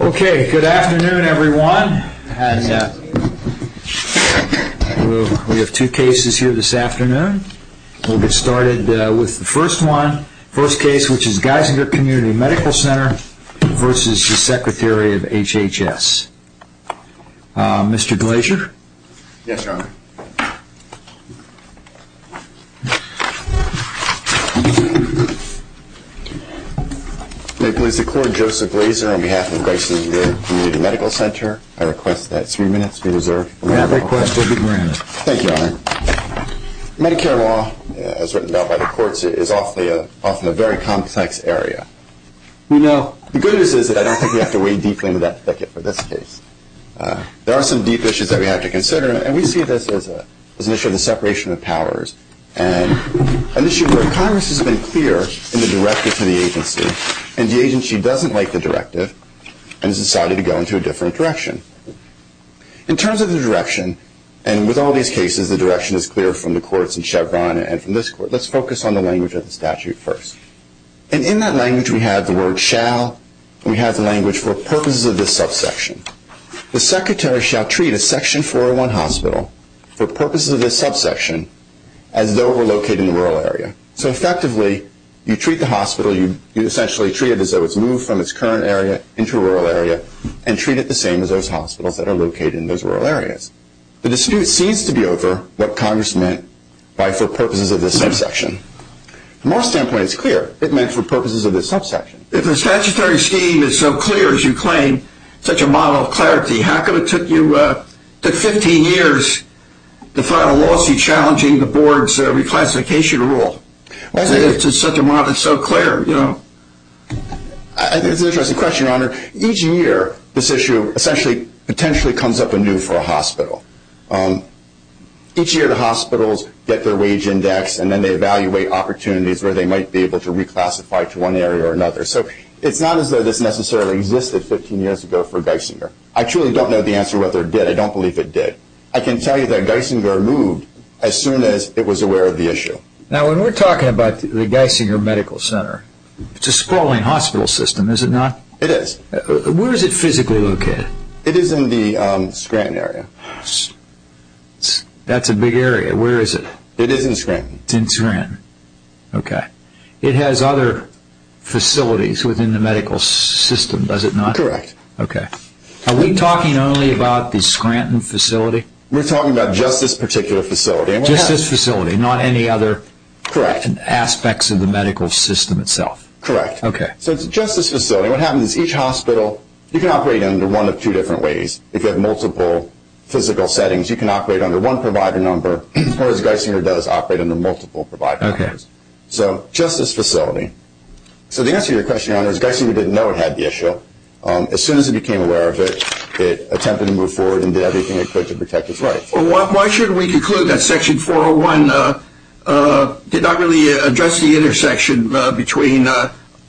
Okay, good afternoon everyone. We have two cases here this afternoon. We'll get started with the first one. First case, which is Geisinger Community Medical Center v. Secretary of HHS. Mr. Glaser? Yes, Your Honor. May it please the Court, Joseph Glaser on behalf of Geisinger Community Medical Center. I request that three minutes be reserved. May that request be granted. Thank you, Your Honor. Medicare law, as written down by the courts, is often a very complex area. We know. The good news is that I don't think we have to wade deeply into that thicket for this case. There are some deep issues that we have to consider, and we see this as an issue of the separation of powers, an issue where Congress has been clear in the directive to the agency, and the agency doesn't like the directive and has decided to go into a different direction. In terms of the direction, and with all these cases the direction is clear from the courts in Chevron and from this court, let's focus on the language of the statute first. And in that language we have the word shall, and we have the language for purposes of this subsection. The secretary shall treat a Section 401 hospital for purposes of this subsection as though it were located in the rural area. So effectively, you treat the hospital, you essentially treat it as though it's moved from its current area into a rural area, and treat it the same as those hospitals that are located in those rural areas. The dispute seems to be over what Congress meant by for purposes of this subsection. From our standpoint, it's clear. It meant for purposes of this subsection. If the statutory scheme is so clear as you claim, such a model of clarity, how come it took you 15 years to file a lawsuit challenging the board's reclassification rule? Why is it such a model that's so clear? It's an interesting question, Your Honor. Each year this issue essentially potentially comes up anew for a hospital. Each year the hospitals get their wage index, and then they evaluate opportunities where they might be able to reclassify to one area or another. So it's not as though this necessarily existed 15 years ago for Geisinger. I truly don't know the answer to whether it did. I don't believe it did. I can tell you that Geisinger moved as soon as it was aware of the issue. Now, when we're talking about the Geisinger Medical Center, it's a sprawling hospital system, is it not? It is. Where is it physically located? It is in the Scranton area. That's a big area. Where is it? It is in Scranton. It's in Scranton. Okay. It has other facilities within the medical system, does it not? Correct. Okay. Are we talking only about the Scranton facility? We're talking about just this particular facility. Just this facility, not any other aspects of the medical system itself? Correct. Okay. So it's just this facility. What happens is each hospital, you can operate under one of two different ways. If you have multiple physical settings, you can operate under one provider number, whereas Geisinger does operate under multiple provider numbers. Okay. So just this facility. So the answer to your question, Your Honor, is Geisinger didn't know it had the issue. As soon as it became aware of it, it attempted to move forward and did everything it could to protect its life. Well, why should we conclude that Section 401 did not really address the intersection between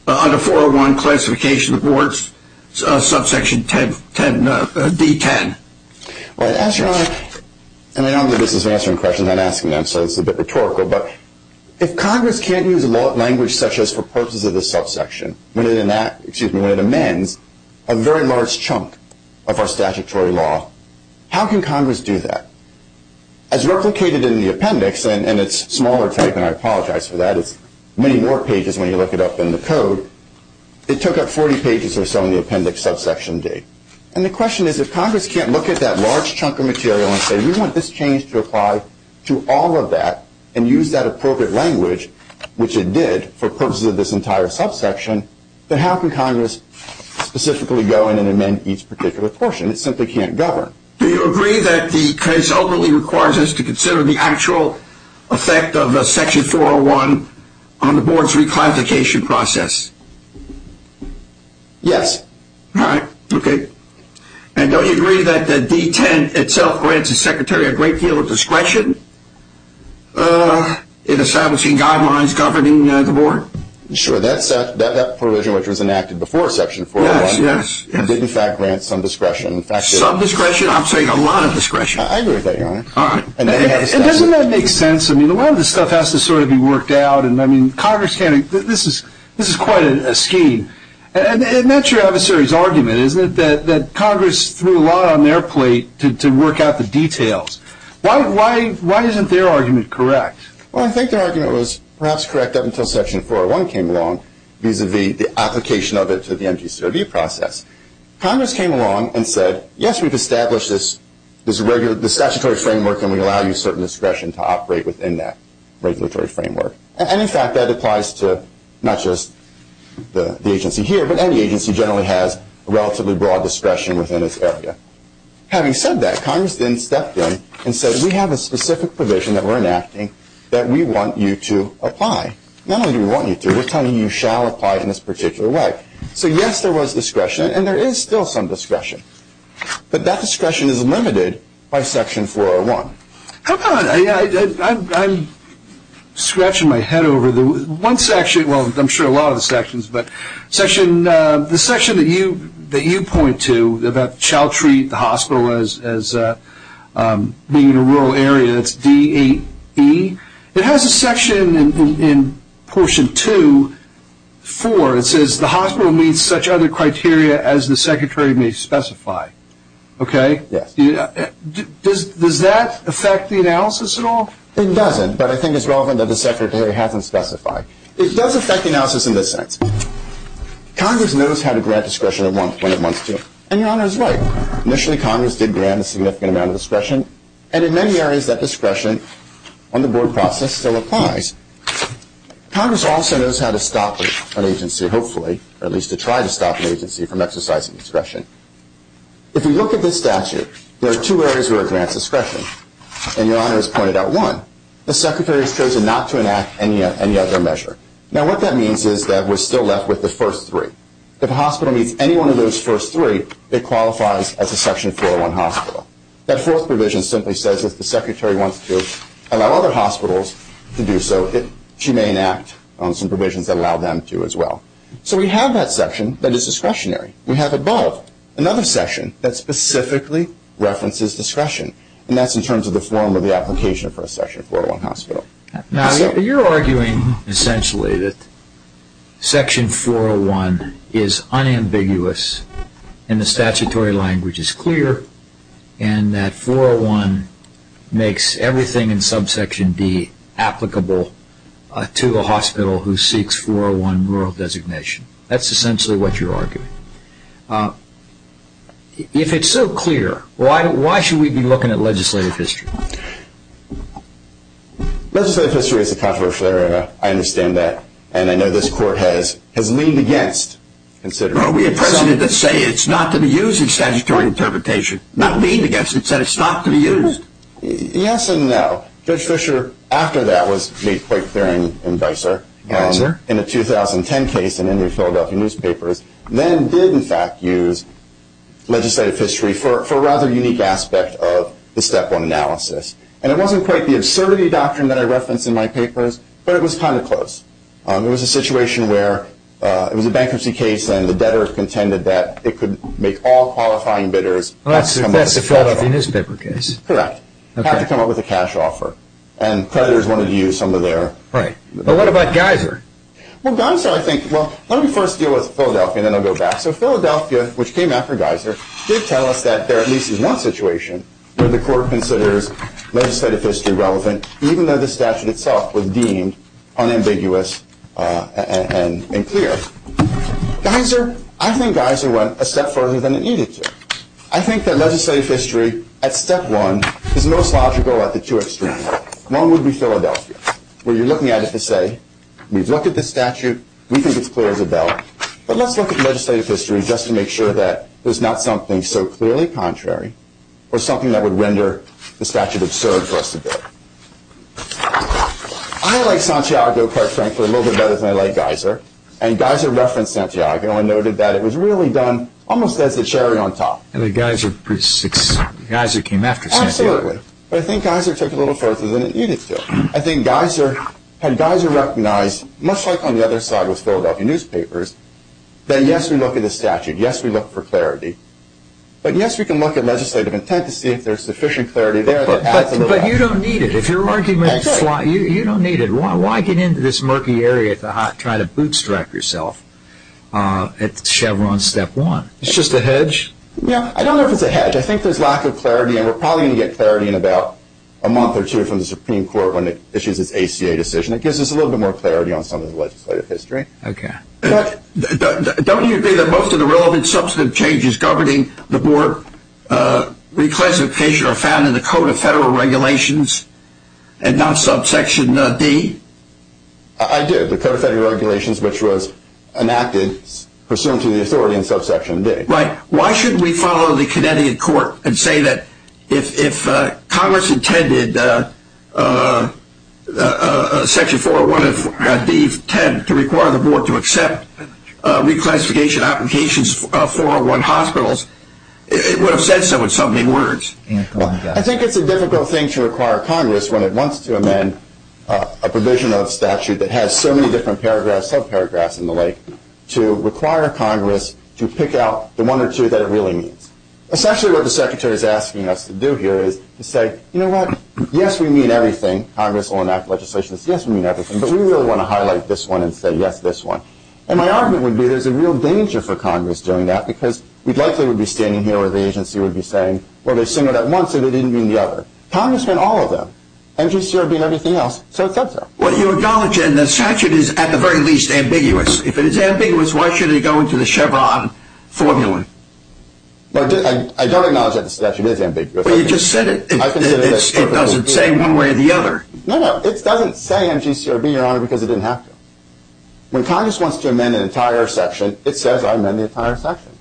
under 401 classification of wards, subsection D10? Well, as Your Honor, and I know this is answering questions I'm asking them, so it's a bit rhetorical, but if Congress can't use a language such as for purposes of this subsection, when it amends a very large chunk of our statutory law, how can Congress do that? As replicated in the appendix, and it's smaller type and I apologize for that, it's many more pages when you look it up in the code, it took up 40 pages or so in the appendix subsection D. And the question is if Congress can't look at that large chunk of material and say, we want this change to apply to all of that and use that appropriate language, which it did for purposes of this entire subsection, then how can Congress specifically go in and amend each particular portion? It simply can't govern. Do you agree that the case ultimately requires us to consider the actual effect of Section 401 on the board's reclassification process? Yes. All right. Okay. And don't you agree that the D10 itself grants the Secretary a great deal of discretion in establishing guidelines governing the board? Sure. That provision which was enacted before Section 401 did in fact grant some discretion. Some discretion? I'm saying a lot of discretion. I agree with that, Your Honor. All right. And doesn't that make sense? I mean, a lot of this stuff has to sort of be worked out. And, I mean, Congress can't. This is quite a scheme. And that's your adversary's argument, isn't it, that Congress threw a lot on their plate to work out the details. Why isn't their argument correct? Well, I think their argument was perhaps correct up until Section 401 came along vis-à-vis the application of it to the MGCOB process. Congress came along and said, yes, we've established this statutory framework and we allow you certain discretion to operate within that regulatory framework. And, in fact, that applies to not just the agency here, but any agency generally has relatively broad discretion within its area. Having said that, Congress then stepped in and said, we have a specific provision that we're enacting that we want you to apply. Not only do we want you to, we're telling you you shall apply in this particular way. So, yes, there was discretion, and there is still some discretion. But that discretion is limited by Section 401. Come on. I'm scratching my head over the one section, well, I'm sure a lot of the sections, but the section that you point to about shall treat the hospital as being in a rural area, that's D8E, it has a section in Portion 2.4. It says the hospital meets such other criteria as the secretary may specify. Okay? Yes. Does that affect the analysis at all? It doesn't, but I think it's relevant that the secretary hasn't specified. It does affect the analysis in this sense. Congress knows how to grant discretion when it wants to, and Your Honor is right. Initially, Congress did grant a significant amount of discretion, and in many areas that discretion on the board process still applies. Congress also knows how to stop an agency, hopefully, or at least to try to stop an agency from exercising discretion. If you look at this statute, there are two areas where it grants discretion, and Your Honor has pointed out one. The secretary has chosen not to enact any other measure. Now, what that means is that we're still left with the first three. If a hospital meets any one of those first three, it qualifies as a Section 401 hospital. That fourth provision simply says if the secretary wants to allow other hospitals to do so, she may enact on some provisions that allow them to as well. So we have that section that is discretionary. We have above another section that specifically references discretion, and that's in terms of the form of the application for a Section 401 hospital. Now, you're arguing essentially that Section 401 is unambiguous, and the statutory language is clear, and that 401 makes everything in subsection D applicable to a hospital who seeks 401 rural designation. That's essentially what you're arguing. If it's so clear, why should we be looking at legislative history? Legislative history is controversial, Your Honor. I understand that, and I know this Court has leaned against considering it. Well, we have presented to say it's not to be used in statutory interpretation. Not leaned against. It's said it's not to be used. Yes and no. Judge Fischer, after that, was made quite clear in Vicer. Yes, sir. In a 2010 case in any of the Philadelphia newspapers, then did, in fact, use legislative history for a rather unique aspect of the Step 1 analysis. And it wasn't quite the absurdity doctrine that I referenced in my papers, but it was kind of close. It was a situation where it was a bankruptcy case, and the debtor contended that it could make all qualifying bidders not come up with a cash offer. Well, that's the Philadelphia newspaper case. Correct. Not to come up with a cash offer. And creditors wanted to use some of their… Right. But what about Geiser? Well, Geiser, I think, well, let me first deal with Philadelphia, and then I'll go back. So Philadelphia, which came after Geiser, did tell us that there at least is one situation where the Court considers legislative history relevant, even though the statute itself was deemed unambiguous and clear. Geiser, I think Geiser went a step further than it needed to. I think that legislative history at Step 1 is most logical at the two extremes. One would be Philadelphia, where you're looking at it to say, we've looked at the statute, we think it's clear as a bell, but let's look at legislative history just to make sure that there's not something so clearly contrary or something that would render the statute absurd for us to bid. I like Santiago, quite frankly, a little bit better than I like Geiser, and Geiser referenced Santiago and noted that it was really done almost as a cherry on top. And Geiser came after Santiago. But I think Geiser took a little further than it needed to. I think Geiser, had Geiser recognized, much like on the other side with Philadelphia newspapers, that yes, we look at the statute, yes, we look for clarity, but yes, we can look at legislative intent to see if there's sufficient clarity there. But you don't need it. If your argument is flawed, you don't need it. Why get into this murky area to try to bootstrap yourself at Chevron Step 1? It's just a hedge. Yeah, I don't know if it's a hedge. I think there's lack of clarity, and we're probably going to get clarity in about a month or two from the Supreme Court when it issues its ACA decision. It gives us a little bit more clarity on some of the legislative history. Okay. Don't you agree that most of the relevant substantive changes governing the board reclassification are found in the Code of Federal Regulations and not subsection D? I do. The Code of Federal Regulations, which was enacted pursuant to the authority in subsection D. Right. Why should we follow the Connecticut court and say that if Congress intended Section 401 of D10 to require the board to accept reclassification applications of 401 hospitals, it would have said so in so many words. I think it's a difficult thing to require Congress when it wants to amend a provision of statute that has so many different paragraphs, subparagraphs, and the like, to require Congress to pick out the one or two that it really needs. Essentially what the Secretary is asking us to do here is to say, you know what? Yes, we mean everything. Congress will enact legislation that says, yes, we mean everything, but we really want to highlight this one and say, yes, this one. And my argument would be there's a real danger for Congress doing that because we likely would be standing here where the agency would be saying, well, they said it at once and they didn't mean the other. Congress meant all of them. NGCR would mean everything else, so it said so. Well, you acknowledge that the statute is at the very least ambiguous. If it is ambiguous, why should it go into the Chevron formula? I don't acknowledge that the statute is ambiguous. Well, you just said it doesn't say one way or the other. No, no, it doesn't say NGCRB, Your Honor, because it didn't have to. When Congress wants to amend an entire section, it says amend the entire section.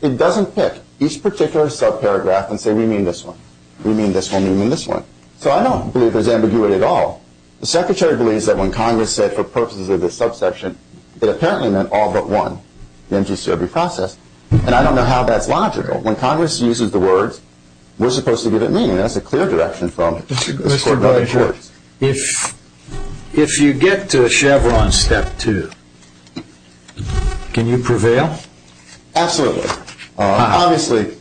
It doesn't pick each particular subparagraph and say, we mean this one, we mean this one, we mean this one. So I don't believe there's ambiguity at all. The Secretary believes that when Congress said for purposes of this subsection, it apparently meant all but one, the NGCRB process. And I don't know how that's logical. When Congress uses the words, we're supposed to give it meaning. That's a clear direction from the Supreme Court. Mr. Boyd, if you get to a Chevron step two, can you prevail? Absolutely. Obviously,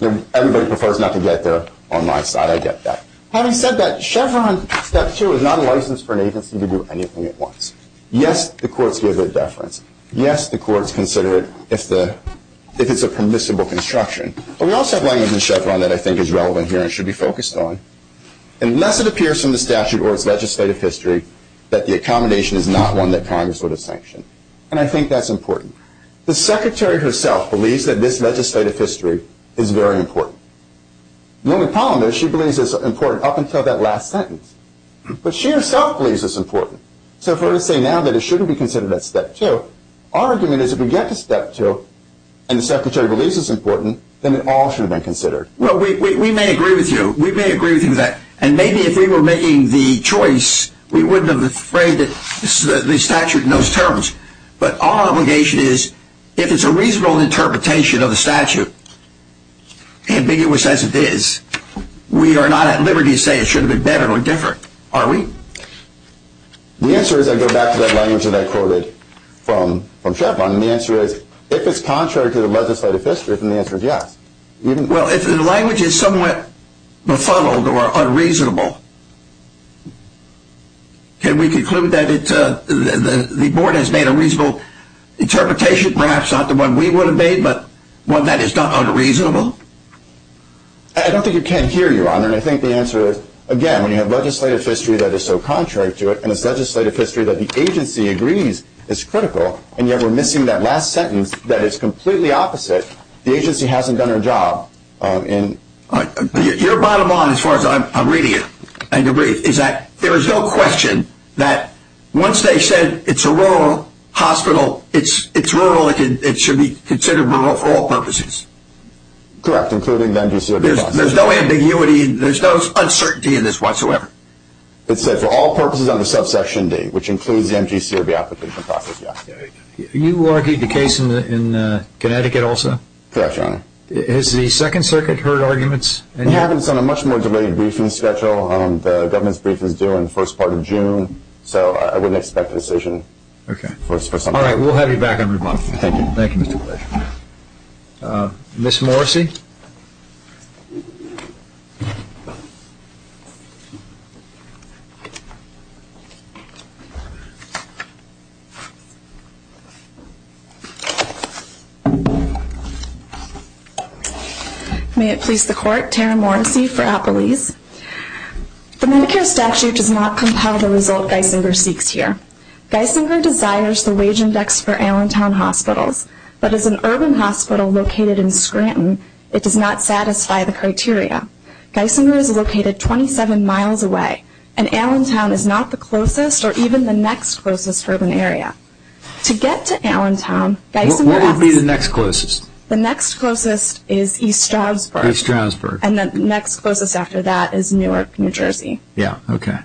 everybody prefers not to get there on my side. I get that. Having said that, Chevron step two is not a license for an agency to do anything it wants. Yes, the courts give it a deference. Yes, the courts consider it if it's a permissible construction. But we also have language in Chevron that I think is relevant here and should be focused on. Unless it appears from the statute or its legislative history that the accommodation is not one that Congress would have sanctioned. And I think that's important. The Secretary herself believes that this legislative history is very important. The only problem is she believes it's important up until that last sentence. But she herself believes it's important. So if we're to say now that it shouldn't be considered at step two, our argument is if we get to step two and the Secretary believes it's important, then it all should have been considered. Well, we may agree with you. We may agree with you on that. And maybe if we were making the choice, we wouldn't have been afraid that the statute knows terms. But our obligation is if it's a reasonable interpretation of the statute and ambiguous as it is, we are not at liberty to say it should have been better or different. Are we? The answer is I go back to that language that I quoted from Chevron. The answer is if it's contrary to the legislative history, then the answer is yes. Well, if the language is somewhat befuddled or unreasonable, can we conclude that the board has made a reasonable interpretation, perhaps not the one we would have made, but one that is not unreasonable? I don't think it can hear you, Your Honor, and I think the answer is, again, when you have legislative history that is so contrary to it and it's legislative history that the agency agrees is critical, and yet we're missing that last sentence that is completely opposite. The agency hasn't done our job. Your bottom line, as far as I'm reading it, is that there is no question that once they said it's a rural hospital, it's rural, it should be considered rural for all purposes. Correct, including the MGCRB process. There's no ambiguity, there's no uncertainty in this whatsoever. It said for all purposes under subsection D, which includes the MGCRB application process, yes. You argued the case in Connecticut also? Correct, Your Honor. Has the Second Circuit heard arguments? It happens on a much more delayed briefing schedule. The government's briefing is due in the first part of June, so I wouldn't expect a decision for something like that. All right, we'll have you back on rebuttal. Thank you. Thank you, Mr. Blair. Ms. Morrisey? May it please the Court, Tara Morrisey for Appalese. The Medicare statute does not compel the result Geisinger seeks here. Geisinger desires the wage index for Allentown hospitals, but as an urban hospital located in Scranton, it does not satisfy the criteria. Geisinger is located 27 miles away, and Allentown is not the closest or even the next closest urban area. To get to Allentown, Geisinger asks Where would be the next closest? The next closest is East Stroudsburg. East Stroudsburg. And the next closest after that is Newark, New Jersey. Yeah, okay.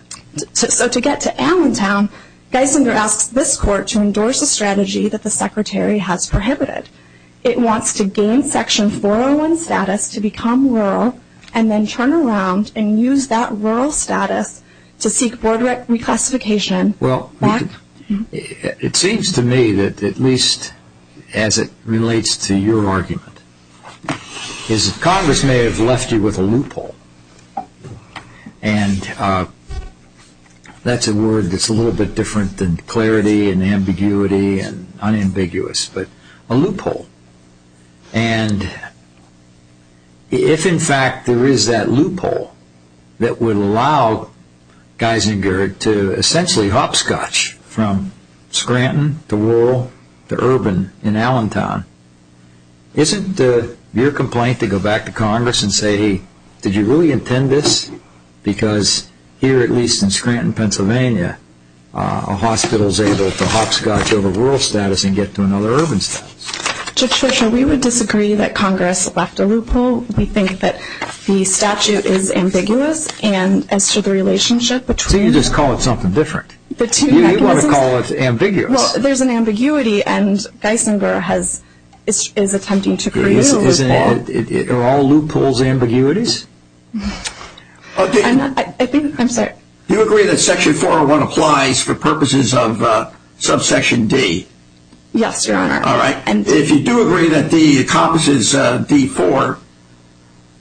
So to get to Allentown, Geisinger asks this Court to endorse a strategy that the Secretary has prohibited. It wants to gain Section 401 status to become rural, and then turn around and use that rural status to seek board reclassification. Well, it seems to me that at least as it relates to your argument, is that Congress may have left you with a loophole. And that's a word that's a little bit different than clarity and ambiguity and unambiguous, but a loophole. And if in fact there is that loophole that would allow Geisinger to essentially hopscotch from Scranton to rural to urban in Allentown, isn't your complaint to go back to Congress and say, hey, did you really intend this? Because here, at least in Scranton, Pennsylvania, a hospital is able to hopscotch over rural status and get to another urban status. Judge Fischer, we would disagree that Congress left a loophole. We think that the statute is ambiguous, and as to the relationship between So you just call it something different. You want to call it ambiguous. Well, there's an ambiguity, and Geisinger is attempting to create a loophole. Are all loopholes ambiguities? I'm sorry. Do you agree that Section 401 applies for purposes of subsection D? Yes, Your Honor. All right. If you do agree that D encompasses D-4,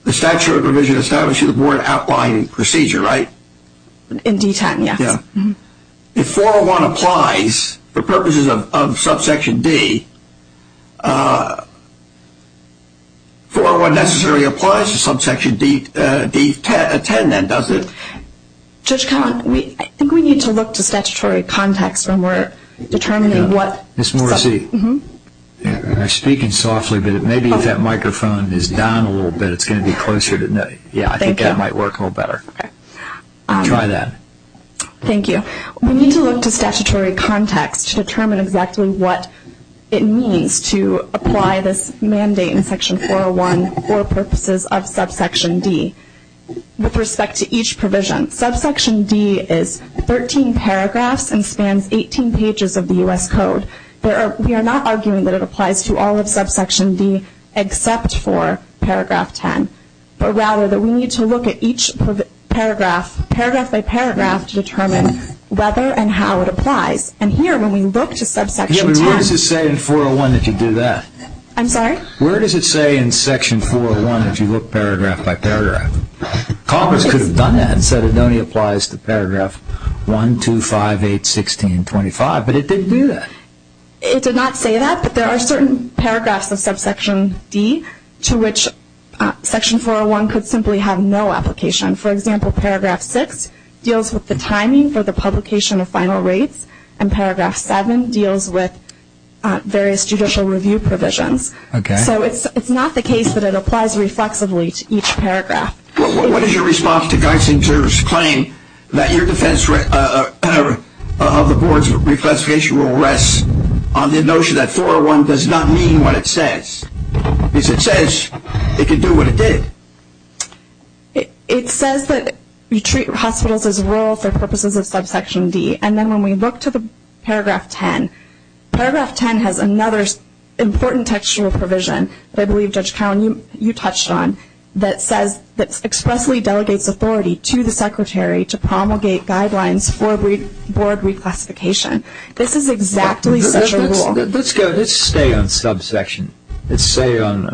the statute of provision establishes a board outlying procedure, right? In D-10, yes. If 401 applies for purposes of subsection D, 401 necessarily applies to subsection D-10, then, doesn't it? Judge Cohn, I think we need to look to statutory context when we're determining what Ms. Morrissey, I'm speaking softly, but maybe if that microphone is down a little bit, it's going to be closer. Yeah, I think that might work a little better. Try that. Thank you. We need to look to statutory context to determine exactly what it means to apply this mandate in Section 401 for purposes of subsection D with respect to each provision. Subsection D is 13 paragraphs and spans 18 pages of the U.S. Code. We are not arguing that it applies to all of subsection D except for paragraph 10, but rather that we need to look at each paragraph, paragraph by paragraph, to determine whether and how it applies. And here, when we look to subsection 10- Yeah, but what does it say in 401 that you do that? I'm sorry? Where does it say in Section 401 that you look paragraph by paragraph? Congress could have done that and said it only applies to paragraph 1, 2, 5, 8, 16, 25, but it didn't do that. It did not say that, but there are certain paragraphs of subsection D to which Section 401 could simply have no application. For example, paragraph 6 deals with the timing for the publication of final rates, and paragraph 7 deals with various judicial review provisions. Okay. So it's not the case that it applies reflexively to each paragraph. What is your response to Geisinger's claim that your defense of the Board's reclassification rule rests on the notion that 401 does not mean what it says? Because it says it can do what it did. It says that you treat hospitals as rural for purposes of subsection D, and then when we look to the paragraph 10, paragraph 10 has another important textual provision that I believe Judge Cowen, you touched on, that expressly delegates authority to the Secretary to promulgate guidelines for Board reclassification. This is exactly such a rule. Let's stay on subsection. Let's stay on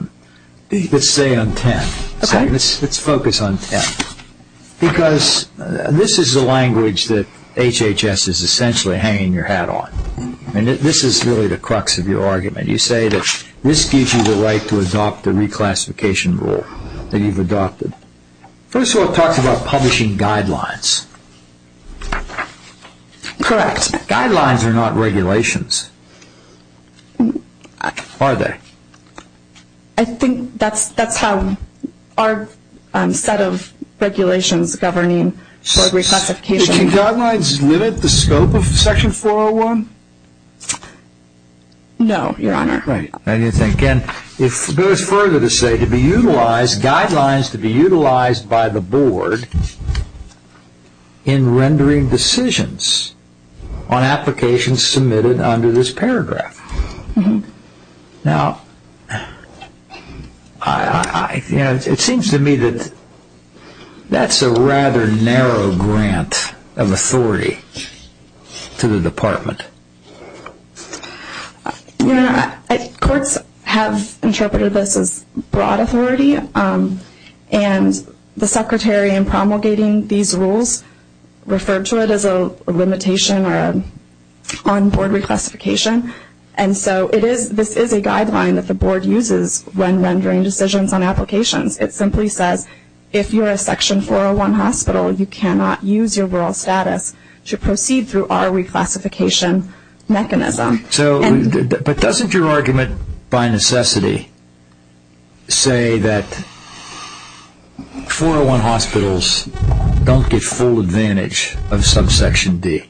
10. Okay. Let's focus on 10, because this is the language that HHS is essentially hanging your hat on. This is really the crux of your argument. You say that this gives you the right to adopt the reclassification rule that you've adopted. First of all, it talks about publishing guidelines. Correct. Guidelines are not regulations, are they? I think that's how our set of regulations governing Board reclassification. Can guidelines limit the scope of Section 401? No, Your Honor. Right. I didn't think. And it goes further to say to be utilized, guidelines to be utilized by the Board Now, it seems to me that that's a rather narrow grant of authority to the Department. Your Honor, courts have interpreted this as broad authority, and the Secretary in promulgating these rules referred to it as a limitation on Board reclassification. And so this is a guideline that the Board uses when rendering decisions on applications. It simply says if you're a Section 401 hospital, you cannot use your rural status to proceed through our reclassification mechanism. But doesn't your argument by necessity say that 401 hospitals don't get full advantage of subsection D?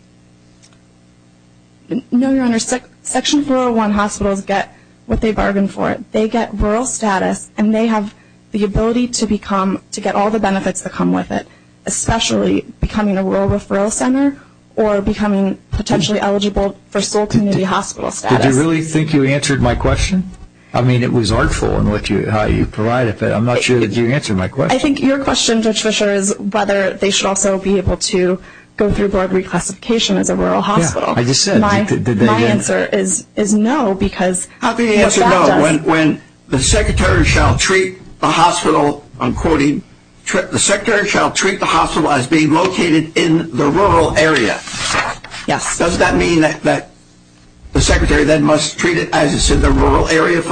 No, Your Honor. Section 401 hospitals get what they bargain for. They get rural status, and they have the ability to get all the benefits that come with it, especially becoming a rural referral center or becoming potentially eligible for sole community hospital status. Did you really think you answered my question? I mean, it was artful in how you provided it, but I'm not sure that you answered my question. I think your question, Judge Fischer, is whether they should also be able to go through Board reclassification as a rural hospital. Yeah, I just said. My answer is no, because that does. When the Secretary shall treat the hospital, I'm quoting, the Secretary shall treat the hospital as being located in the rural area. Yes. Does that mean that the Secretary then must treat it as it's in the rural area?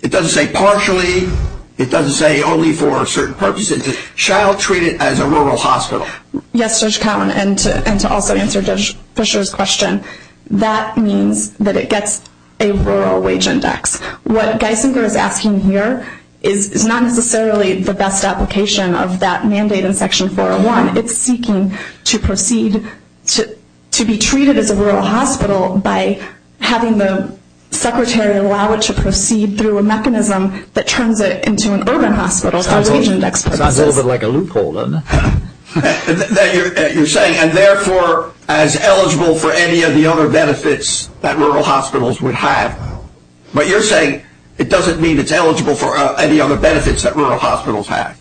It doesn't say partially. It doesn't say only for a certain purpose. It says shall treat it as a rural hospital. Yes, Judge Cowan, and to also answer Judge Fischer's question, that means that it gets a rural wage index. What Geisinger is asking here is not necessarily the best application of that mandate in Section 401. It's seeking to proceed to be treated as a rural hospital by having the Secretary allow it to proceed through a mechanism that turns it into an urban hospital for wage index purposes. Sounds a little bit like a loophole, doesn't it? You're saying, and therefore as eligible for any of the other benefits that rural hospitals would have. But you're saying it doesn't mean it's eligible for any other benefits that rural hospitals have.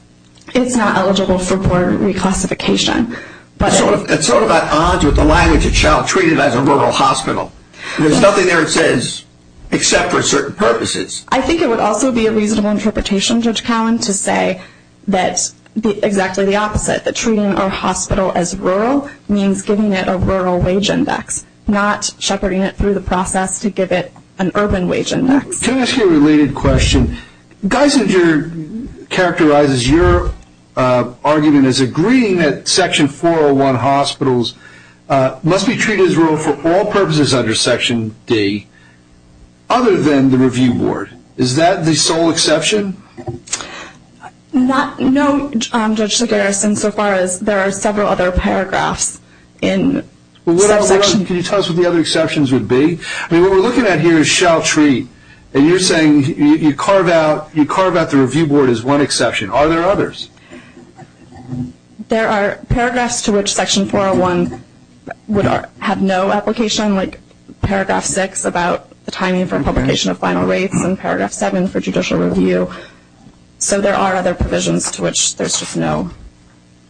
It's not eligible for Board reclassification. It's sort of at odds with the language, it shall treat it as a rural hospital. There's nothing there that says except for certain purposes. I think it would also be a reasonable interpretation, Judge Cowan, to say that exactly the opposite, that treating a hospital as rural means giving it a rural wage index, not shepherding it through the process to give it an urban wage index. Can I ask you a related question? Geisinger characterizes your argument as agreeing that Section 401 hospitals must be treated as rural for all purposes under Section D, other than the review board. Is that the sole exception? No, Judge Segarra, so far as there are several other paragraphs in that section. Can you tell us what the other exceptions would be? What we're looking at here is shall treat. You're saying you carve out the review board as one exception. Are there others? There are paragraphs to which Section 401 would have no application, like Paragraph 6 about the timing for publication of final rates and Paragraph 7 for judicial review. So there are other provisions to which there's just no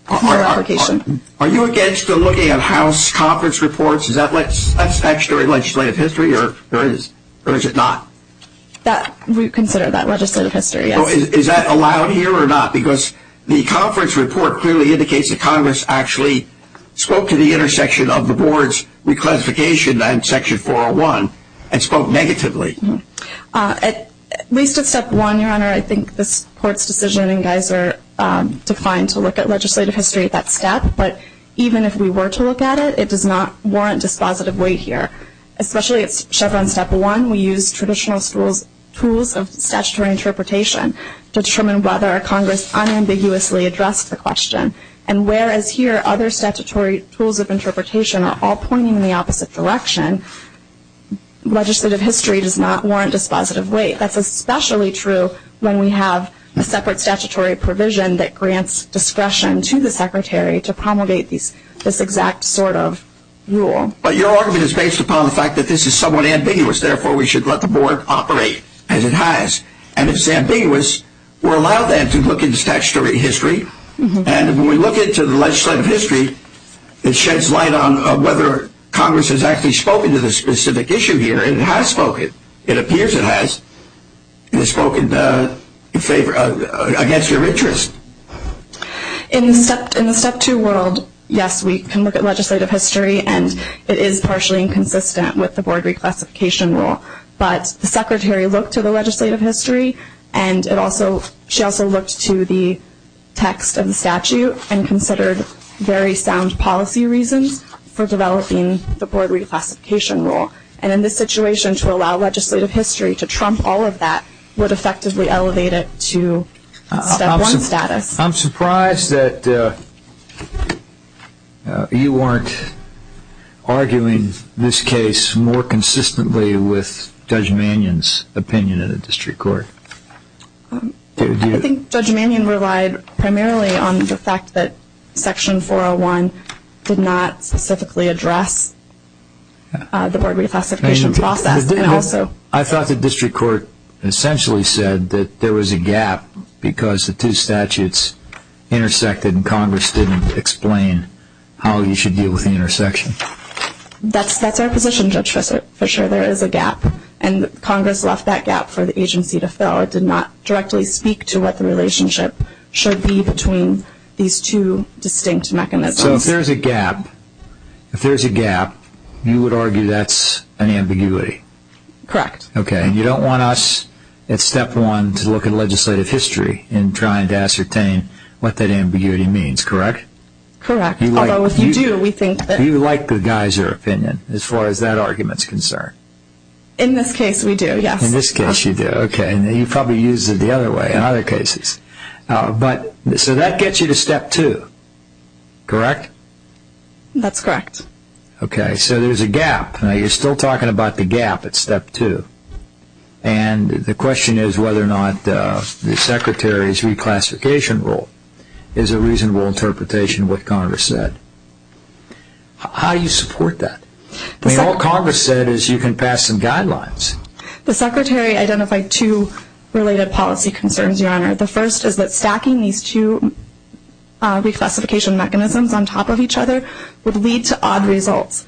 application. Are you against looking at House conference reports? Is that extra legislative history or is it not? We consider that legislative history, yes. So is that allowed here or not? Because the conference report clearly indicates that Congress actually spoke to the intersection of the board's reclassification and Section 401 and spoke negatively. At least at Step 1, Your Honor, I think this Court's decision and Geiser defined to look at legislative history at that step. But even if we were to look at it, it does not warrant dispositive weight here, especially at Chevron Step 1. We use traditional tools of statutory interpretation to determine whether Congress unambiguously addressed the question. And whereas here other statutory tools of interpretation are all pointing in the opposite direction, legislative history does not warrant dispositive weight. That's especially true when we have a separate statutory provision that grants discretion to the Secretary to promulgate this exact sort of rule. But your argument is based upon the fact that this is somewhat ambiguous. Therefore, we should let the board operate as it has. And if it's ambiguous, we'll allow them to look into statutory history. And when we look into the legislative history, it sheds light on whether Congress has actually spoken to the specific issue here. And it has spoken. It appears it has. It has spoken against your interest. In the Step 2 world, yes, we can look at legislative history, and it is partially inconsistent with the board reclassification rule. But the Secretary looked to the legislative history, and she also looked to the text of the statute and considered very sound policy reasons for developing the board reclassification rule. And in this situation, to allow legislative history to trump all of that would effectively elevate it to Step 1 status. I'm surprised that you weren't arguing this case more consistently with Judge Mannion's opinion in the district court. I think Judge Mannion relied primarily on the fact that Section 401 did not specifically address the board reclassification process. I thought the district court essentially said that there was a gap because the two statutes intersected and Congress didn't explain how you should deal with the intersection. That's our position, Judge Fischer. There is a gap, and Congress left that gap for the agency to fill. It did not directly speak to what the relationship should be between these two distinct mechanisms. So if there's a gap, you would argue that's an ambiguity. Correct. Okay, and you don't want us at Step 1 to look at legislative history in trying to ascertain what that ambiguity means, correct? Correct. Do you like the Geiser opinion as far as that argument is concerned? In this case, we do, yes. In this case, you do. Okay, and you probably use it the other way in other cases. So that gets you to Step 2, correct? That's correct. Okay, so there's a gap. Now, you're still talking about the gap at Step 2. And the question is whether or not the Secretary's reclassification rule is a reasonable interpretation of what Congress said. How do you support that? I mean, all Congress said is you can pass some guidelines. The Secretary identified two related policy concerns, Your Honor. The first is that stacking these two reclassification mechanisms on top of each other would lead to odd results.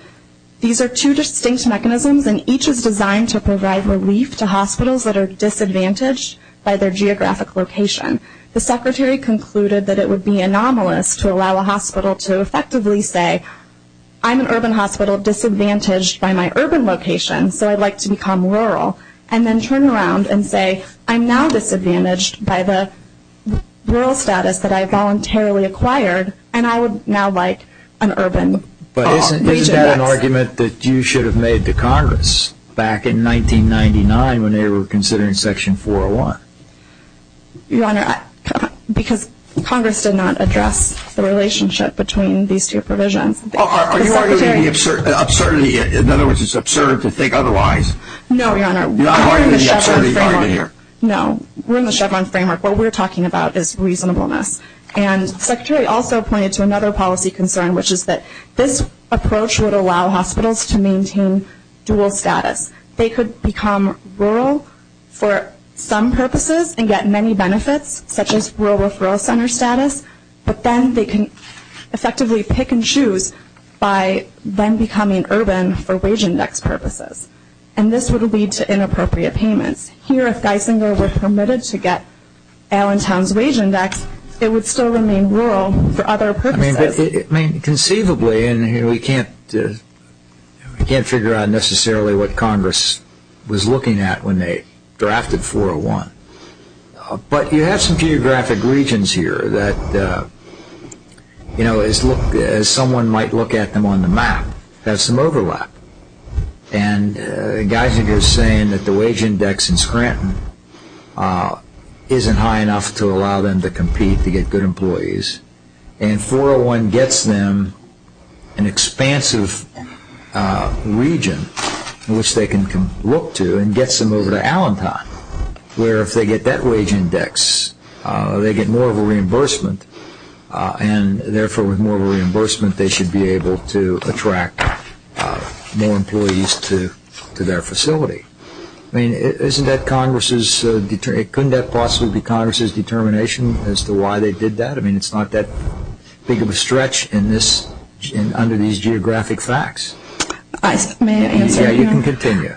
These are two distinct mechanisms, and each is designed to provide relief to hospitals that are disadvantaged by their geographic location. The Secretary concluded that it would be anomalous to allow a hospital to effectively say, I'm an urban hospital disadvantaged by my urban location, so I'd like to become rural, and then turn around and say, I'm now disadvantaged by the rural status that I voluntarily acquired, and I would now like an urban region. But isn't that an argument that you should have made to Congress back in 1999 when they were considering Section 401? Your Honor, because Congress did not address the relationship between these two provisions. Are you arguing the absurdity? In other words, it's absurd to think otherwise. No, Your Honor. You're not arguing the absurdity argument here. No, we're in the Chevron framework. What we're talking about is reasonableness. And the Secretary also pointed to another policy concern, which is that this approach would allow hospitals to maintain dual status. They could become rural for some purposes and get many benefits, such as rural referral center status, but then they can effectively pick and choose by then becoming urban for wage index purposes. And this would lead to inappropriate payments. Here, if Geisinger were permitted to get Allentown's wage index, it would still remain rural for other purposes. I mean, conceivably, and we can't figure out necessarily what Congress was looking at when they drafted 401, but you have some geographic regions here that, you know, as someone might look at them on the map, have some overlap. And Geisinger is saying that the wage index in Scranton isn't high enough to allow them to compete to get good employees. And 401 gets them an expansive region in which they can look to and gets them over to Allentown, where if they get that wage index, they get more of a reimbursement. And therefore, with more reimbursement, they should be able to attract more employees to their facility. I mean, couldn't that possibly be Congress's determination as to why they did that? I mean, it's not that big of a stretch under these geographic facts. May I answer? Yeah, you can continue.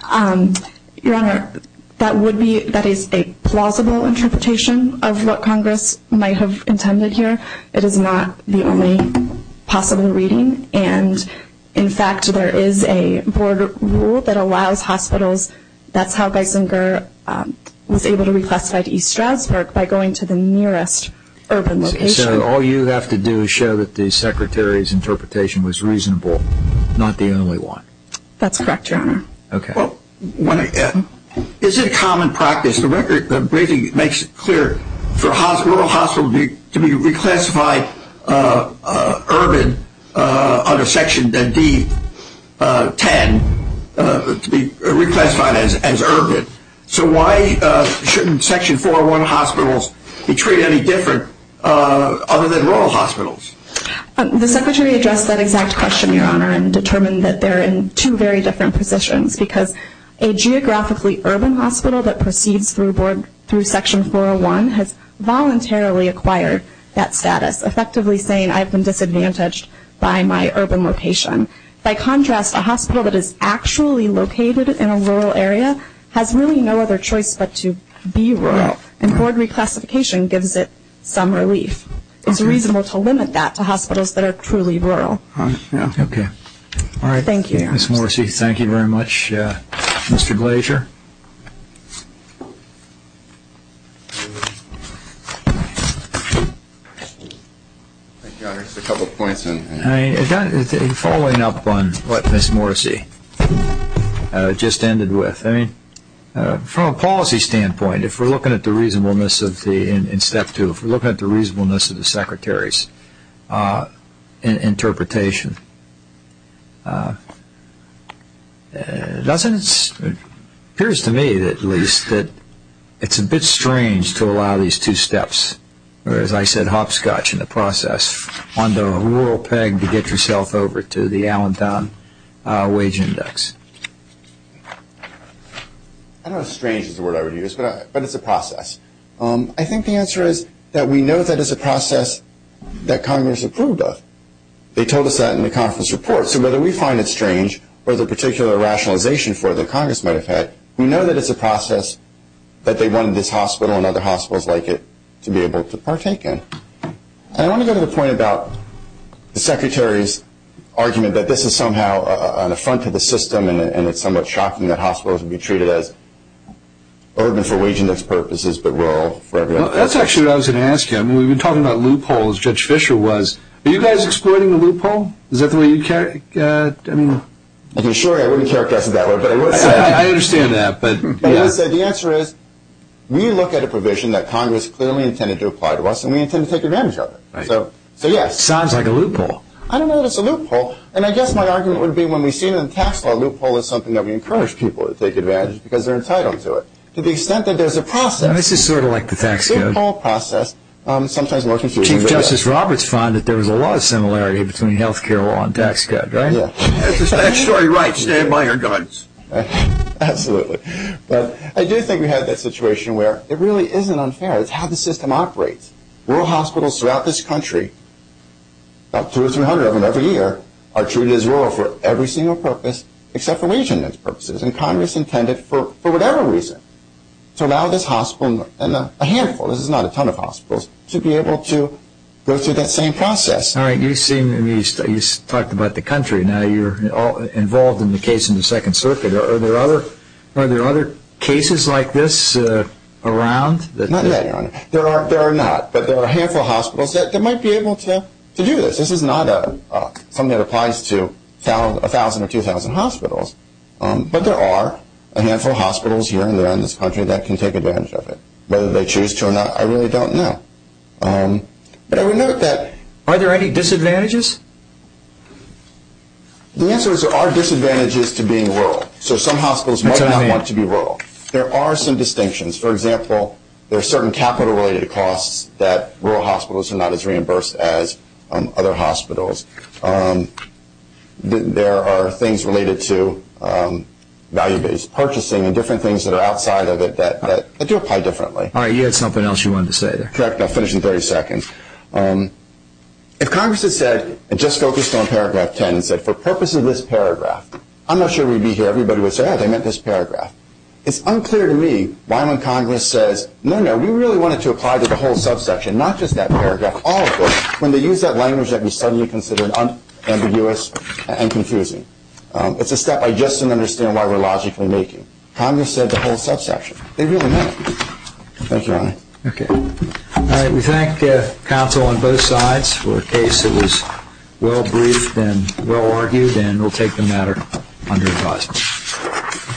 Your Honor, that is a plausible interpretation of what Congress might have intended here. It is not the only possible reading. And, in fact, there is a board rule that allows hospitals. That's how Geisinger was able to reclassify to East Stroudsburg, by going to the nearest urban location. So all you have to do is show that the Secretary's interpretation was reasonable, not the only one. That's correct, Your Honor. Okay. Well, is it common practice? The briefing makes it clear for a hospital to be reclassified urban under Section D-10, to be reclassified as urban. So why shouldn't Section 401 hospitals be treated any different other than rural hospitals? The Secretary addressed that exact question, Your Honor, and determined that they're in two very different positions because a geographically urban hospital that proceeds through Section 401 has voluntarily acquired that status, effectively saying I've been disadvantaged by my urban location. By contrast, a hospital that is actually located in a rural area has really no other choice but to be rural, and board reclassification gives it some relief. It's reasonable to limit that to hospitals that are truly rural. Okay. All right. Thank you, Your Honor. Ms. Morrissey, thank you very much. Mr. Glazer? Thank you, Your Honor. Just a couple of points. Following up on what Ms. Morrissey just ended with, from a policy standpoint, if we're looking at the reasonableness in Step 2, if we're looking at the reasonableness of the Secretary's interpretation, it appears to me at least that it's a bit strange to allow these two steps, or as I said, hopscotch in the process, on the rural peg to get yourself over to the Allentown wage index. I don't know if strange is the word I would use, but it's a process. I think the answer is that we know that it's a process that Congress approved of. They told us that in the conference report. So whether we find it strange or there's a particular rationalization for it that Congress might have had, we know that it's a process that they wanted this hospital and other hospitals like it to be able to partake in. I want to go to the point about the Secretary's argument that this is somehow an affront to the system and it's somewhat shocking that hospitals would be treated as urban for wage index purposes, but rural for every other purpose. That's actually what I was going to ask you. We've been talking about loopholes, Judge Fischer was. Are you guys exploiting the loophole? Is that the way you'd characterize it? Sure, I wouldn't characterize it that way. I understand that. The answer is we look at a provision that Congress clearly intended to apply to us and we intend to take advantage of it. It sounds like a loophole. I don't know if it's a loophole. I guess my argument would be when we see it in the tax law, a loophole is something that we encourage people to take advantage of because they're entitled to it. To the extent that there's a process. This is sort of like the tax code. A loophole process. Chief Justice Roberts found that there was a lot of similarity between health care law and tax code, right? That's the statutory right. Stand by your guns. Absolutely. But I do think we have that situation where it really isn't unfair. It's how the system operates. Rural hospitals throughout this country, about 200 or 300 of them every year, are treated as rural for every single purpose except for wage amendments purposes, and Congress intended for whatever reason to allow this hospital, and a handful, this is not a ton of hospitals, to be able to go through that same process. All right. You talked about the country. Now you're involved in the case in the Second Circuit. Are there other cases like this around? Not yet, Your Honor. There are not, but there are a handful of hospitals that might be able to do this. This is not something that applies to 1,000 or 2,000 hospitals, but there are a handful of hospitals here and there in this country that can take advantage of it. Whether they choose to or not, I really don't know. But I would note that. Are there any disadvantages? The answer is there are disadvantages to being rural. So some hospitals might not want to be rural. There are some distinctions. For example, there are certain capital related costs that rural hospitals are not as reimbursed as other hospitals. There are things related to value-based purchasing and different things that are outside of it that do apply differently. All right. You had something else you wanted to say there. Correct. I'll finish in 30 seconds. If Congress had said and just focused on Paragraph 10 and said, for purpose of this paragraph, I'm not sure we'd be here. Everybody would say, oh, they meant this paragraph. It's unclear to me why when Congress says, no, no, we really wanted to apply to the whole subsection, not just that paragraph, all of it, when they use that language that we suddenly consider ambiguous and confusing. It's a step I just don't understand why we're logically making. They really meant it. Thank you, Your Honor. Okay. All right. We thank counsel on both sides for a case that was well-briefed and well-argued, and we'll take the matter under advisement.